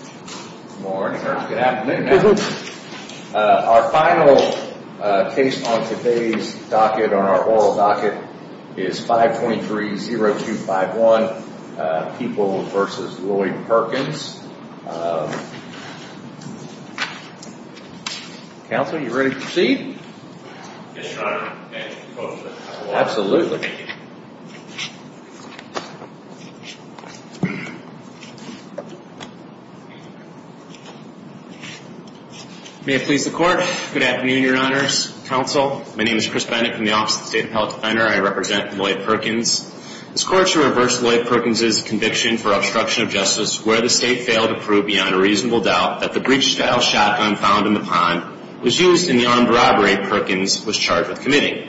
Good morning or good afternoon. Our final case on today's oral docket is 523-0251, Peoples v. Lloyd Perkins. Counsel, are you ready to proceed? Yes, Your Honor. Absolutely. May it please the Court. Good afternoon, Your Honors, Counsel. My name is Chris Bennett from the Office of the State Appellate Defender. I represent Lloyd Perkins. This Court shall reverse Lloyd Perkins' conviction for obstruction of justice where the State failed to prove beyond a reasonable doubt that the breech-style shotgun found in the pond was used in the armed robbery Perkins was charged with committing.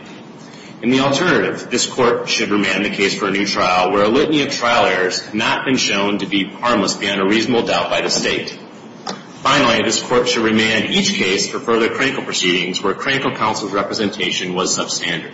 In the alternative, this Court should remand the case for a new trial where a litany of trial errors have not been shown to be harmless beyond a reasonable doubt by the State. Finally, this Court shall remand each case for further critical proceedings where critical counsel's representation was substandard.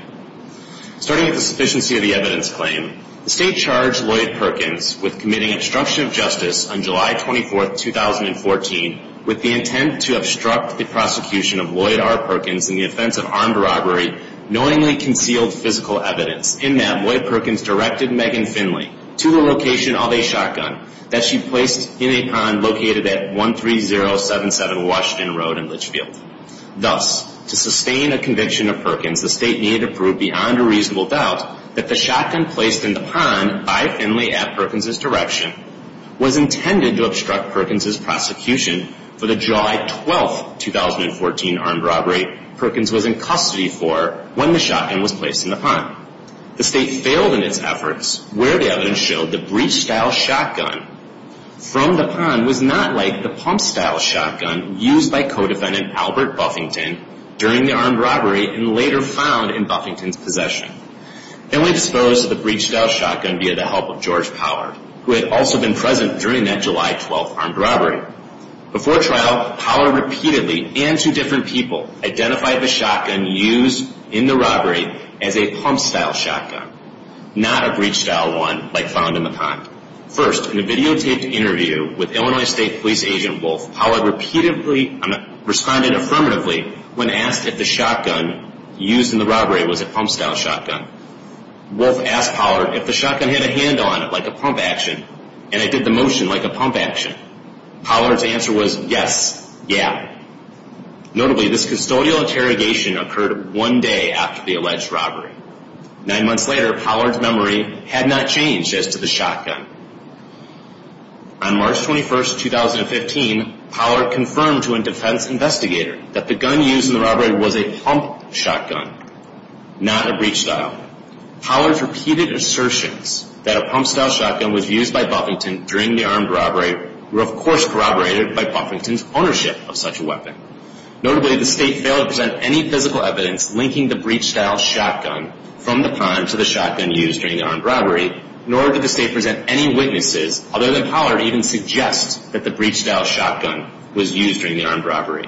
Starting with the sufficiency of the evidence claim, the State charged Lloyd Perkins with committing obstruction of justice on July 24, 2014 with the intent to obstruct the prosecution of Lloyd R. Perkins in the offense of armed robbery knowingly concealed physical evidence in that Lloyd Perkins directed Megan Finley to the location of a shotgun that she placed in a pond located at 13077 Washington Road in Litchfield. Thus, to sustain a conviction of Perkins, the State needed to prove beyond a reasonable doubt that the shotgun placed in the pond by Finley at Perkins' direction was intended to obstruct Perkins' prosecution for the July 12, 2014 armed robbery Perkins was in custody for when the shotgun was placed in the pond. The State failed in its efforts where the evidence showed the breech-style shotgun from the pond was not like the pump-style shotgun used by co-defendant Albert Buffington during the armed robbery and later found in Buffington's possession. Finley disposed of the breech-style shotgun via the help of George Power, who had also been present during that July 12 armed robbery. Before trial, Power repeatedly, and to different people, identified the shotgun used in the robbery as a pump-style shotgun, not a breech-style one like found in the pond. First, in a videotaped interview with Illinois State Police Agent Wolf, Power repeatedly responded affirmatively when asked if the shotgun used in the robbery was a pump-style shotgun. Wolf asked Power if the shotgun had a hand on it like a pump action, and it did the motion like a pump action. Power's answer was, yes, yeah. Notably, this custodial interrogation occurred one day after the alleged robbery. Nine months later, Power's memory had not changed as to the shotgun. On March 21, 2015, Power confirmed to a defense investigator that the gun used in the robbery was a pump shotgun, not a breech-style. Power's repeated assertions that a pump-style shotgun was used by Buffington during the armed robbery were, of course, corroborated by Buffington's ownership of such a weapon. Notably, the State failed to present any physical evidence linking the breech-style shotgun from the pond to the shotgun used during the armed robbery, nor did the State present any witnesses, other than Power to even suggest that the breech-style shotgun was used during the armed robbery.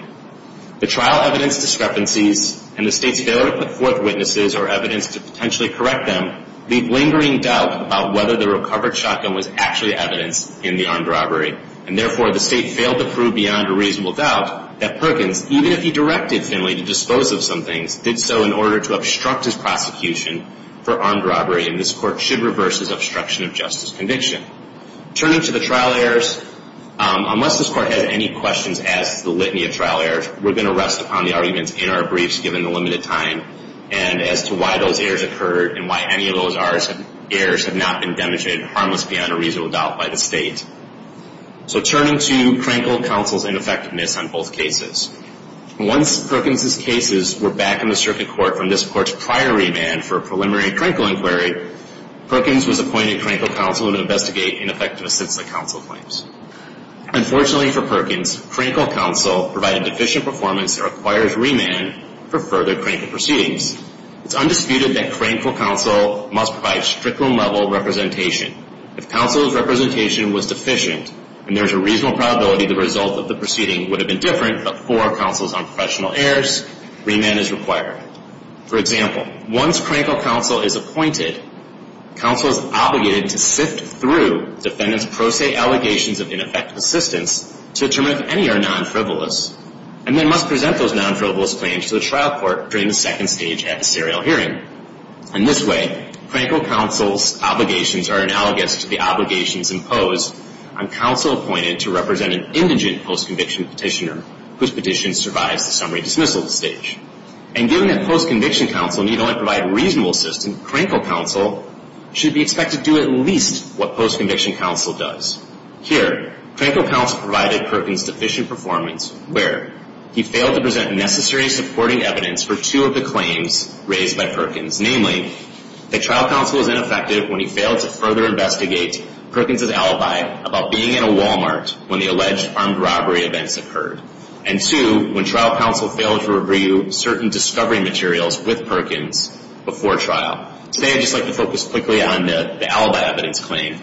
The trial evidence discrepancies and the State's failure to put forth witnesses or evidence to potentially correct them leave lingering doubt about whether the recovered shotgun was actually evidence in the armed robbery, and therefore the State failed to prove beyond a reasonable doubt that Perkins, even if he directed Finley to dispose of some things, did so in order to obstruct his prosecution for armed robbery, and this Court should reverse his obstruction of justice conviction. Turning to the trial errors, unless this Court has any questions as to the litany of trial errors, we're going to rest upon the arguments in our briefs, given the limited time, and as to why those errors occurred and why any of those errors have not been demonstrated harmless beyond a reasonable doubt by the State. So turning to Crankle Counsel's ineffectiveness on both cases, once Perkins' cases were back in the circuit court from this Court's prior remand for a preliminary Crankle inquiry, Perkins was appointed Crankle Counsel to investigate ineffective assistant counsel claims. Unfortunately for Perkins, Crankle Counsel provided deficient performance that requires remand for further Crankle proceedings. It's undisputed that Crankle Counsel must provide stricter level representation. If Counsel's representation was deficient and there's a reasonable probability the result of the proceeding would have been different before Counsel's unprofessional errors, remand is required. For example, once Crankle Counsel is appointed, Counsel is obligated to sift through defendant's pro se allegations of ineffective assistance to determine if any are non-frivolous and then must present those non-frivolous claims to the trial court during the second stage at the serial hearing. In this way, Crankle Counsel's obligations are analogous to the obligations imposed on Counsel appointed to represent an indigent post-conviction petitioner whose petition survives the summary dismissal stage. And given that post-conviction Counsel need only provide reasonable assistance, Crankle Counsel should be expected to do at least what post-conviction Counsel does. Here, Crankle Counsel provided Perkins' deficient performance where he failed to present necessary supporting evidence for two of the claims raised by Perkins. Namely, that trial counsel was ineffective when he failed to further investigate Perkins' alibi about being in a Walmart when the alleged armed robbery events occurred. And two, when trial counsel failed to review certain discovery materials with Perkins before trial. Today I'd just like to focus quickly on the alibi evidence claim.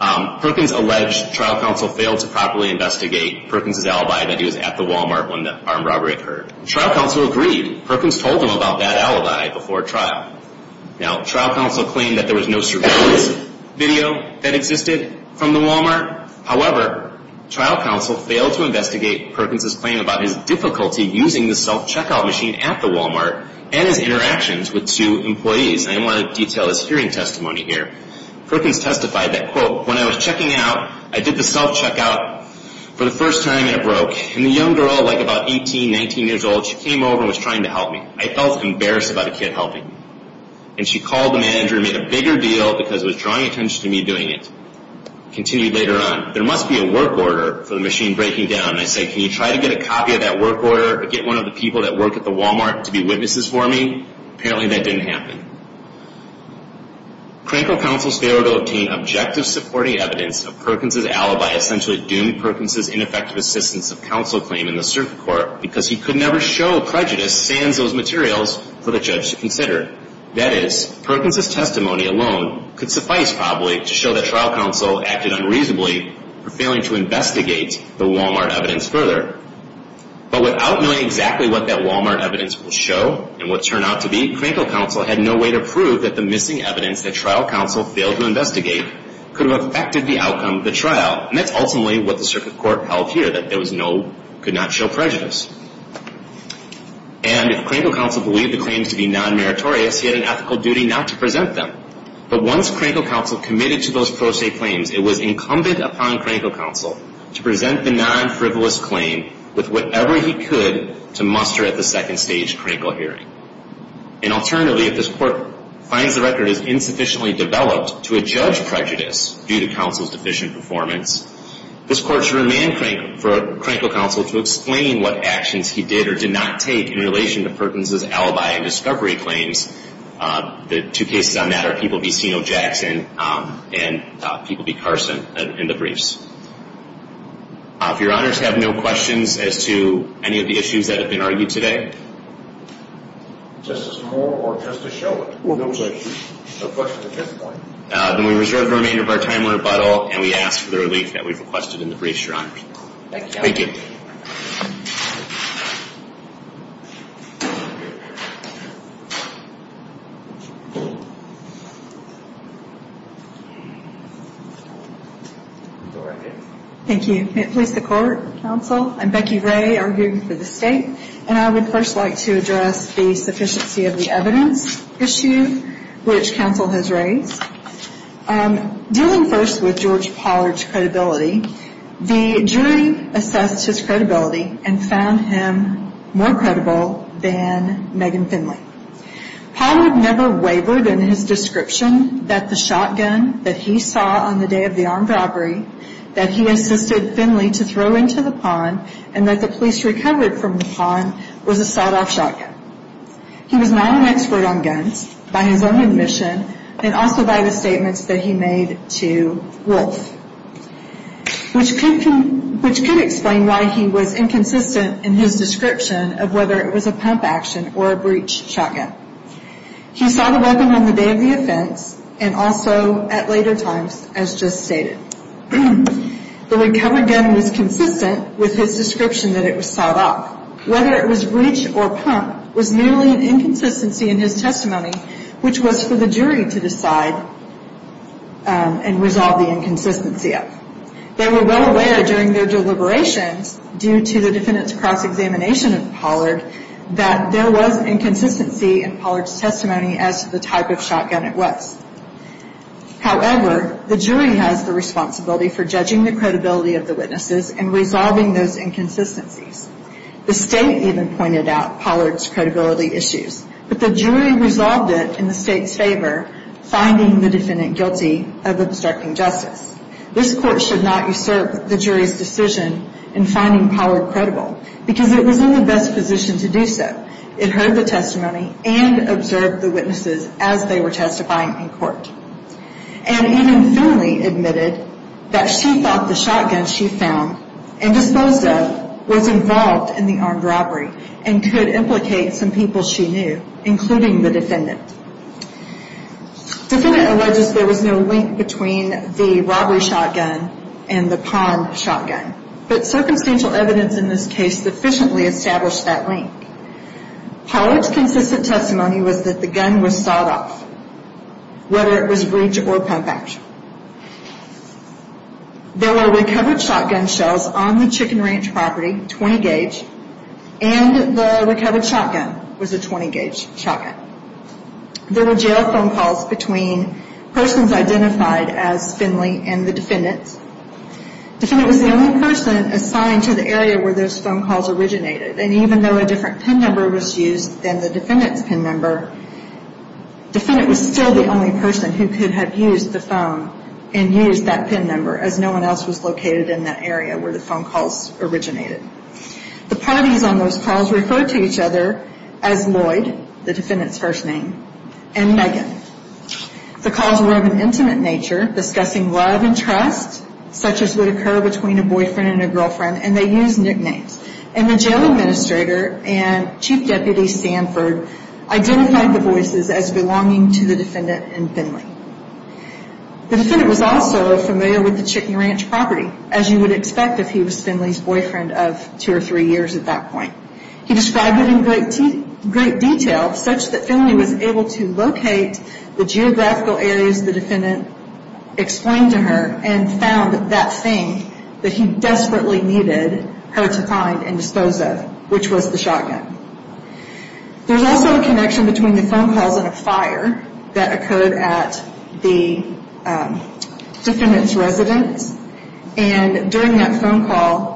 Perkins alleged trial counsel failed to properly investigate Perkins' alibi that he was at the Walmart when the armed robbery occurred. Trial counsel agreed. Perkins told him about that alibi before trial. Now, trial counsel claimed that there was no surveillance video that existed from the Walmart. However, trial counsel failed to investigate Perkins' claim about his difficulty using the self-checkout machine at the Walmart and his interactions with two employees. I didn't want to detail his hearing testimony here. Perkins testified that, quote, when I was checking out, I did the self-checkout for the first time and it broke. And the young girl, like about 18, 19 years old, she came over and was trying to help me. I felt embarrassed about a kid helping me. And she called the manager and made a bigger deal because it was drawing attention to me doing it. Continued later on, there must be a work order for the machine breaking down. And I said, can you try to get a copy of that work order? Get one of the people that work at the Walmart to be witnesses for me? Apparently that didn't happen. Crankle counsel's failure to obtain objective supporting evidence of Perkins' alibi essentially doomed Perkins' ineffective assistance of counsel claim in the circuit court because he could never show prejudice sans those materials for the judge to consider. That is, Perkins' testimony alone could suffice probably to show that trial counsel acted unreasonably for failing to investigate the Walmart evidence further. But without knowing exactly what that Walmart evidence will show and what it turned out to be, it was not a way to prove that the missing evidence that trial counsel failed to investigate could have affected the outcome of the trial. And that's ultimately what the circuit court held here, that there was no, could not show prejudice. And if Crankle counsel believed the claims to be non-meritorious, he had an ethical duty not to present them. But once Crankle counsel committed to those pro se claims, it was incumbent upon Crankle counsel to present the non-frivolous claim with whatever he could to muster at the second stage Crankle hearing. And alternatively, if this court finds the record is insufficiently developed to adjudge prejudice due to counsel's deficient performance, this court should demand Crankle counsel to explain what actions he did or did not take in relation to Perkins' alibi and discovery claims. The two cases on that are PBCO Jackson and PBC Carson in the briefs. If your honors have no questions as to any of the issues that have been argued today, then we reserve the remainder of our time on rebuttal and we ask for the relief that we've requested in the briefs, your honors. Thank you. Thank you. May it please the court, counsel. I'm Becky Ray, arguing for the state. And I would first like to address the sufficiency of the evidence issue which counsel has raised. Dealing first with George Pollard's credibility, the jury assessed his credibility and found him more credible than Megan Finley. Pollard never wavered in his description that the shotgun that he saw on the day of the armed robbery that he assisted Finley to throw into the pond and that the police recovered from the pond was a sawed-off shotgun. He was not an expert on guns by his own admission and also by the statements that he made to Wolf, which could explain why he was inconsistent in his description of whether it was a pump action or a breech shotgun. He saw the weapon on the day of the offense and also at later times, as just stated. The recovered gun was consistent with his description that it was sawed-off. Whether it was breech or pump was merely an inconsistency in his testimony, which was for the jury to decide and resolve the inconsistency of. They were well aware during their deliberations due to the defendant's cross-examination of Pollard that there was inconsistency in Pollard's testimony as to the type of shotgun it was. However, the jury has the responsibility for judging the credibility of the witnesses and resolving those inconsistencies. The state even pointed out Pollard's credibility issues, but the jury resolved it in the state's favor, finding the defendant guilty of obstructing justice. This court should not usurp the jury's decision in finding Pollard credible because it was in the best position to do so. It heard the testimony and observed the witnesses as they were testifying in court. And even Finley admitted that she thought the shotgun she found and disposed of was involved in the armed robbery and could implicate some people she knew, including the defendant. The defendant alleges there was no link between the robbery shotgun and the palm shotgun, but circumstantial evidence in this case sufficiently established that link. Pollard's consistent testimony was that the gun was sawed off, whether it was breech or pump action. There were recovered shotgun shells on the Chicken Ranch property, 20-gauge, and the recovered shotgun was a 20-gauge shotgun. There were jail phone calls between persons identified as Finley and the defendant. The defendant was the only person assigned to the area where those phone calls originated, and even though a different PIN number was used than the defendant's PIN number, the defendant was still the only person who could have used the phone and used that PIN number as no one else was located in that area where the phone calls originated. The parties on those calls referred to each other as Lloyd, the defendant's first name, and Megan. The calls were of an intimate nature, discussing love and trust, such as would occur between a boyfriend and a girlfriend, and they used nicknames. And the jail administrator and Chief Deputy Sanford identified the voices as belonging to the defendant and Finley. The defendant was also familiar with the Chicken Ranch property, as you would expect if he was Finley's boyfriend of two or three years at that point. He described it in great detail, such that Finley was able to locate the geographical areas the defendant explained to her and found that thing that he desperately needed her to find and dispose of, which was the shotgun. There was also a connection between the phone calls and a fire that occurred at the defendant's residence, and during that phone call,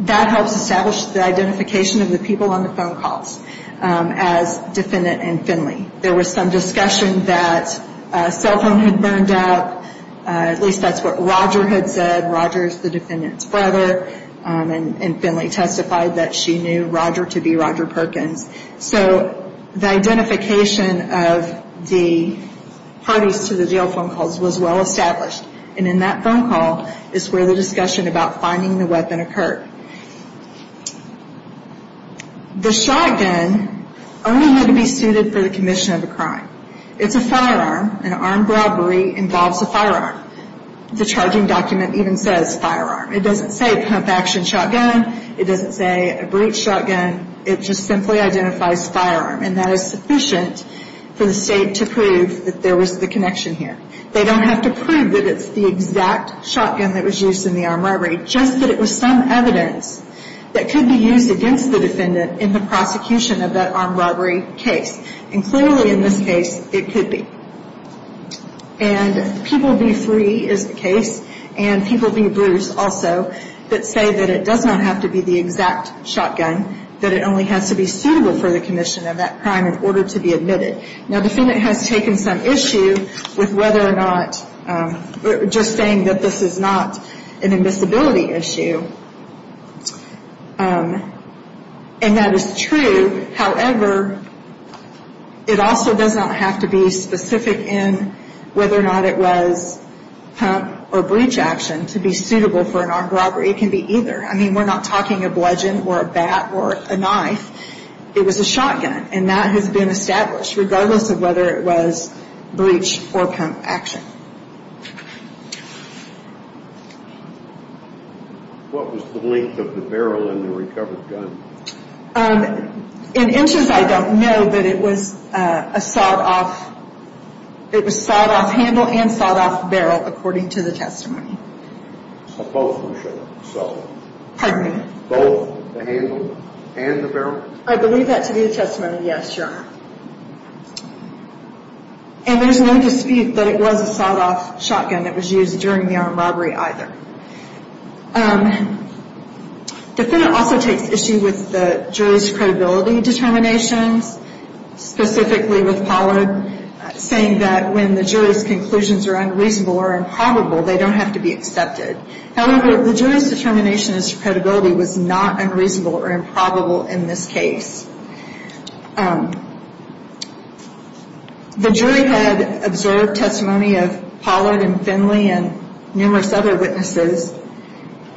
that helps establish the identification of the people on the phone calls as defendant and Finley. There was some discussion that a cell phone had burned up, at least that's what Roger had said. Roger is the defendant's brother, and Finley testified that she knew Roger to be Roger Perkins. So the identification of the parties to the jail phone calls was well established, and in that phone call is where the discussion about finding the weapon occurred. The shotgun only had to be suited for the commission of a crime. It's a firearm, and armed robbery involves a firearm. The charging document even says firearm. It doesn't say pump-action shotgun. It doesn't say a breech shotgun. It just simply identifies firearm, and that is sufficient for the state to prove that there was the connection here. They don't have to prove that it's the exact shotgun that was used in the armed robbery, just that it was some evidence that could be used against the defendant in the prosecution of that armed robbery case, and clearly in this case, it could be. And people be free is the case, and people be bruised also, that say that it does not have to be the exact shotgun, that it only has to be suitable for the commission of that crime in order to be admitted. Now, the defendant has taken some issue with whether or not, just saying that this is not an admissibility issue, and that is true. However, it also does not have to be specific in whether or not it was pump or breech action to be suitable for an armed robbery. It can be either. I mean, we're not talking a bludgeon or a bat or a knife. It was a shotgun, and that has been established, regardless of whether it was breech or pump action. What was the length of the barrel in the recovered gun? In interest, I don't know, but it was a sawed-off handle and sawed-off barrel, according to the testimony. So both, Michelle? Pardon me? Both the handle and the barrel? I believe that to be the testimony, yes, Your Honor. And there's no dispute that it was a sawed-off shotgun that was used during the armed robbery either. The defendant also takes issue with the jury's credibility determinations, specifically with Pollard saying that when the jury's conclusions are unreasonable or improbable, they don't have to be accepted. However, the jury's determination as to credibility was not unreasonable or improbable in this case. The jury had observed testimony of Pollard and Finley and numerous other witnesses,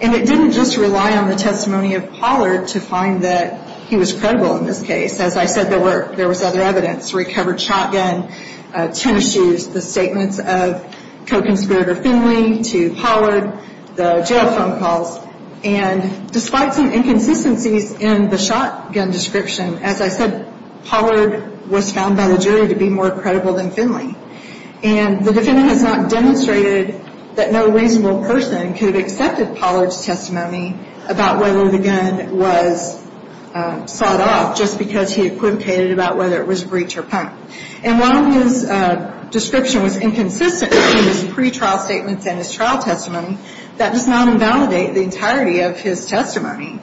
and it didn't just rely on the testimony of Pollard to find that he was credible in this case. As I said, there was other evidence. Recovered shotgun, tennis shoes, the statements of co-conspirator Finley to Pollard, the jail phone calls. And despite some inconsistencies in the shotgun description, as I said, Pollard was found by the jury to be more credible than Finley. And the defendant has not demonstrated that no reasonable person could have accepted Pollard's testimony about whether the gun was sawed off just because he equivocated about whether it was a breach or punt. And while his description was inconsistent in his pretrial statements and his trial testimony, that does not invalidate the entirety of his testimony.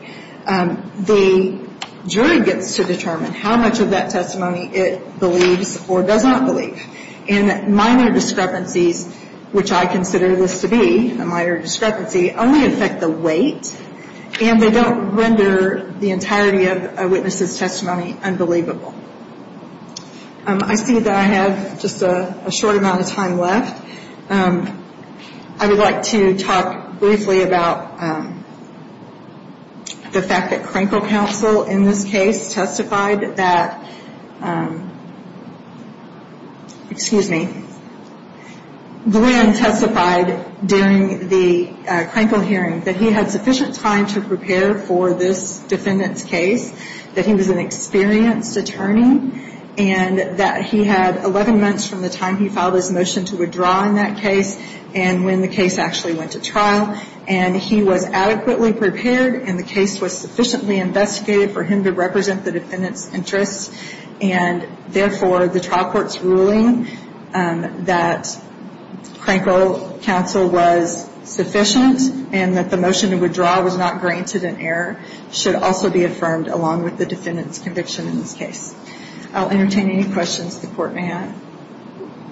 The jury gets to determine how much of that testimony it believes or does not believe. And minor discrepancies, which I consider this to be a minor discrepancy, only affect the weight, and they don't render the entirety of a witness's testimony unbelievable. I see that I have just a short amount of time left. I would like to talk briefly about the fact that Crankle Counsel in this case testified that, excuse me, Glenn testified during the Crankle hearing that he had sufficient time to prepare for this defendant's case, that he was an experienced attorney, and that he had 11 months from the time he filed his motion to withdraw in that case and when the case actually went to trial, and he was adequately prepared and the case was sufficiently investigated for him to represent the defendant's interests. And, therefore, the trial court's ruling that Crankle Counsel was sufficient and that the motion to withdraw was not granted in error should also be affirmed, along with the defendant's conviction in this case. I'll entertain any questions the court may have.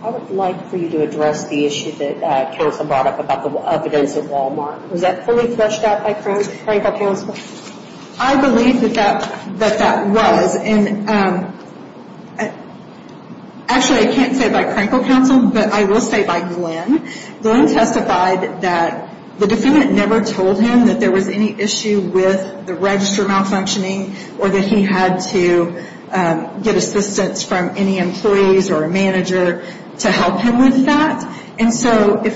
I would like for you to address the issue that Carissa brought up about the evidence at Walmart. Was that fully fleshed out by Crankle Counsel? I believe that that was. And, actually, I can't say by Crankle Counsel, but I will say by Glenn. Glenn testified that the defendant never told him that there was any issue with the register malfunctioning or that he had to get assistance from any employees or a manager to help him with that. And, so, if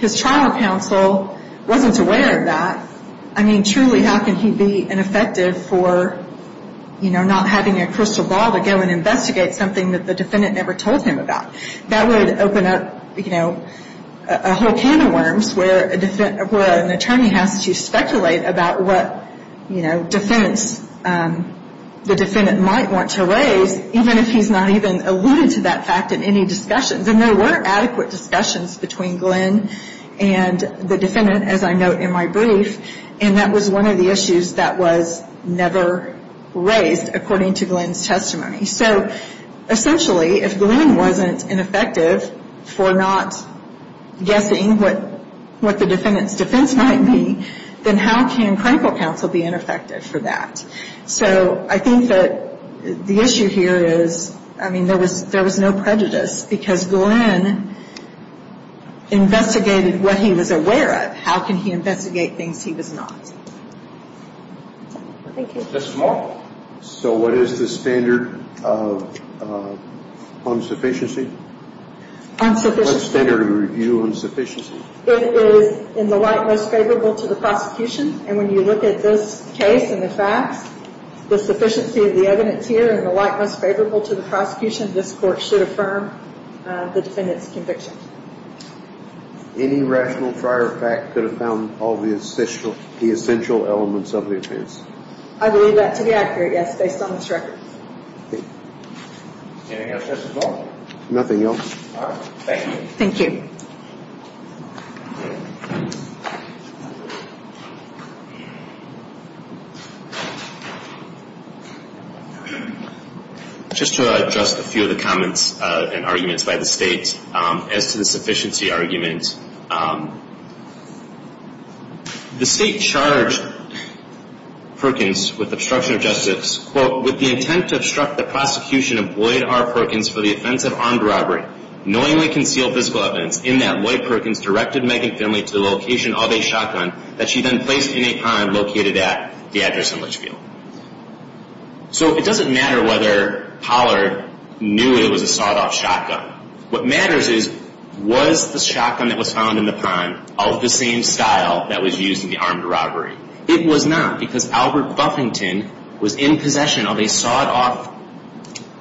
his trial counsel wasn't aware of that, I mean, truly, how can he be ineffective for, you know, not having a crystal ball to go and investigate something that the defendant never told him about? That would open up, you know, a whole can of worms where an attorney has to speculate about what, you know, defense the defendant might want to raise, even if he's not even alluded to that fact in any discussions. And there were adequate discussions between Glenn and the defendant, as I note in my brief, and that was one of the issues that was never raised, according to Glenn's testimony. So, essentially, if Glenn wasn't ineffective for not guessing what the defendant's defense might be, then how can Crankle Counsel be ineffective for that? So, I think that the issue here is, I mean, there was no prejudice because Glenn investigated what he was aware of. How can he investigate things he was not? Thank you. Justice Moore? So, what is the standard of unsufficiency? Unsufficiency? What is the standard of review of insufficiency? It is in the light most favorable to the prosecution. And when you look at this case and the facts, the sufficiency of the evidence here and the light most favorable to the prosecution, this Court should affirm the defendant's conviction. Any rational prior fact could have found all the essential elements of the offense? I believe that to be accurate, yes, based on this record. Anything else, Justice Moore? Nothing else. All right. Thank you. Thank you. Just to address a few of the comments and arguments by the State, as to the sufficiency argument, the State charged Perkins with obstruction of justice, quote, with the intent to obstruct the prosecution of Lloyd R. Perkins for the offense of armed robbery, knowingly concealed physical evidence in that Lloyd Perkins directed Megan Finley to the location of a shotgun that she then placed in a pond located at the address in Litchfield. So, it doesn't matter whether Pollard knew it was a sawed-off shotgun. What matters is, was the shotgun that was found in the pond of the same style that was used in the armed robbery? It was not, because Albert Buffington was in possession of a sawed-off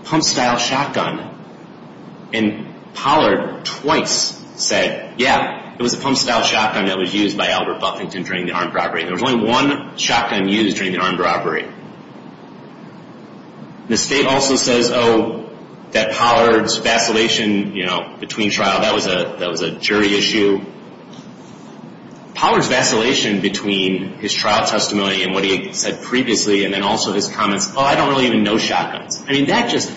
pump-style shotgun. And Pollard twice said, yeah, it was a pump-style shotgun that was used by Albert Buffington during the armed robbery. There was only one shotgun used during the armed robbery. The State also says, oh, that Pollard's vacillation, you know, between trial, that was a jury issue. Pollard's vacillation between his trial testimony and what he said previously, and then also his comments, oh, I don't really even know shotguns. I mean, that just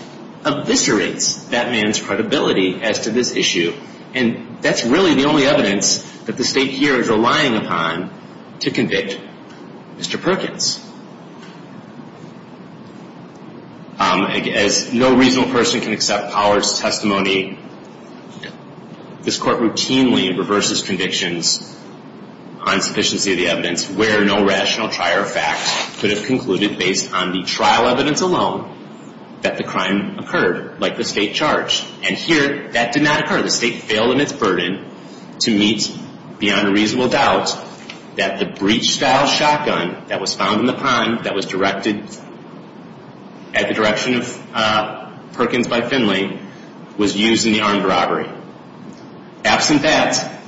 eviscerates that man's credibility as to this issue. And that's really the only evidence that the State here is relying upon to convict Mr. Perkins. As no reasonable person can accept Pollard's testimony, this Court routinely reverses convictions on sufficiency of the evidence, where no rational trier of fact could have concluded, based on the trial evidence alone, that the crime occurred, like the State charged. And here, that did not occur. The State failed in its burden to meet beyond a reasonable doubt that the breach-style shotgun that was found in the pond that was directed at the direction of Perkins by Finley was used in the armed robbery. Absent that,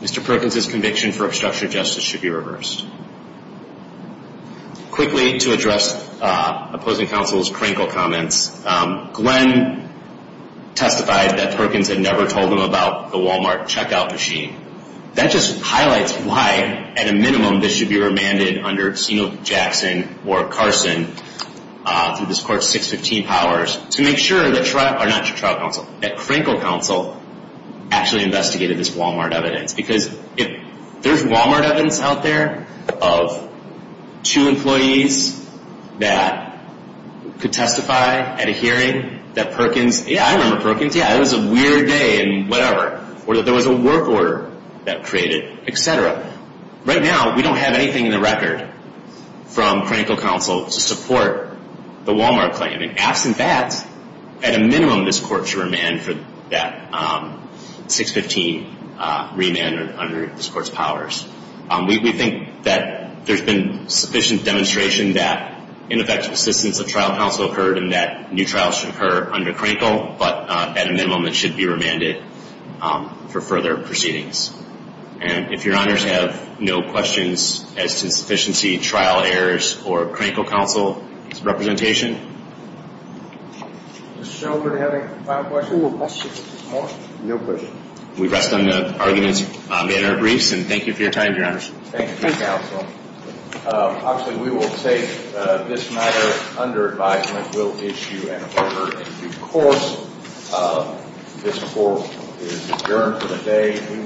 Mr. Perkins' conviction for obstruction of justice should be reversed. Quickly, to address opposing counsel's critical comments, Glenn testified that Perkins had never told him about the Walmart checkout machine. That just highlights why, at a minimum, this should be remanded under Senate Jackson or Carson, through this Court's 615 powers, to make sure that trial counsel, or not trial counsel, that Crankle counsel actually investigated this Walmart evidence. Because if there's Walmart evidence out there of two employees that could testify at a hearing that Perkins, yeah, I remember Perkins, yeah, it was a weird day and whatever, or that there was a work order that created, et cetera. Right now, we don't have anything in the record from Crankle counsel to support the Walmart claim. And absent that, at a minimum, this Court should remand for that 615 remand under this Court's powers. We think that there's been sufficient demonstration that ineffective assistance of trial counsel occurred and that new trials should occur under Crankle. But at a minimum, it should be remanded for further proceedings. And if Your Honors have no questions as to sufficiency, trial errors, or Crankle counsel's representation. Does the gentleman have any final questions or questions? No questions. We rest on the argument in our briefs. And thank you for your time, Your Honors. Thank you, counsel. Obviously, we will take this matter under advisement. We'll issue an order in due course. This Court is adjourned for the day.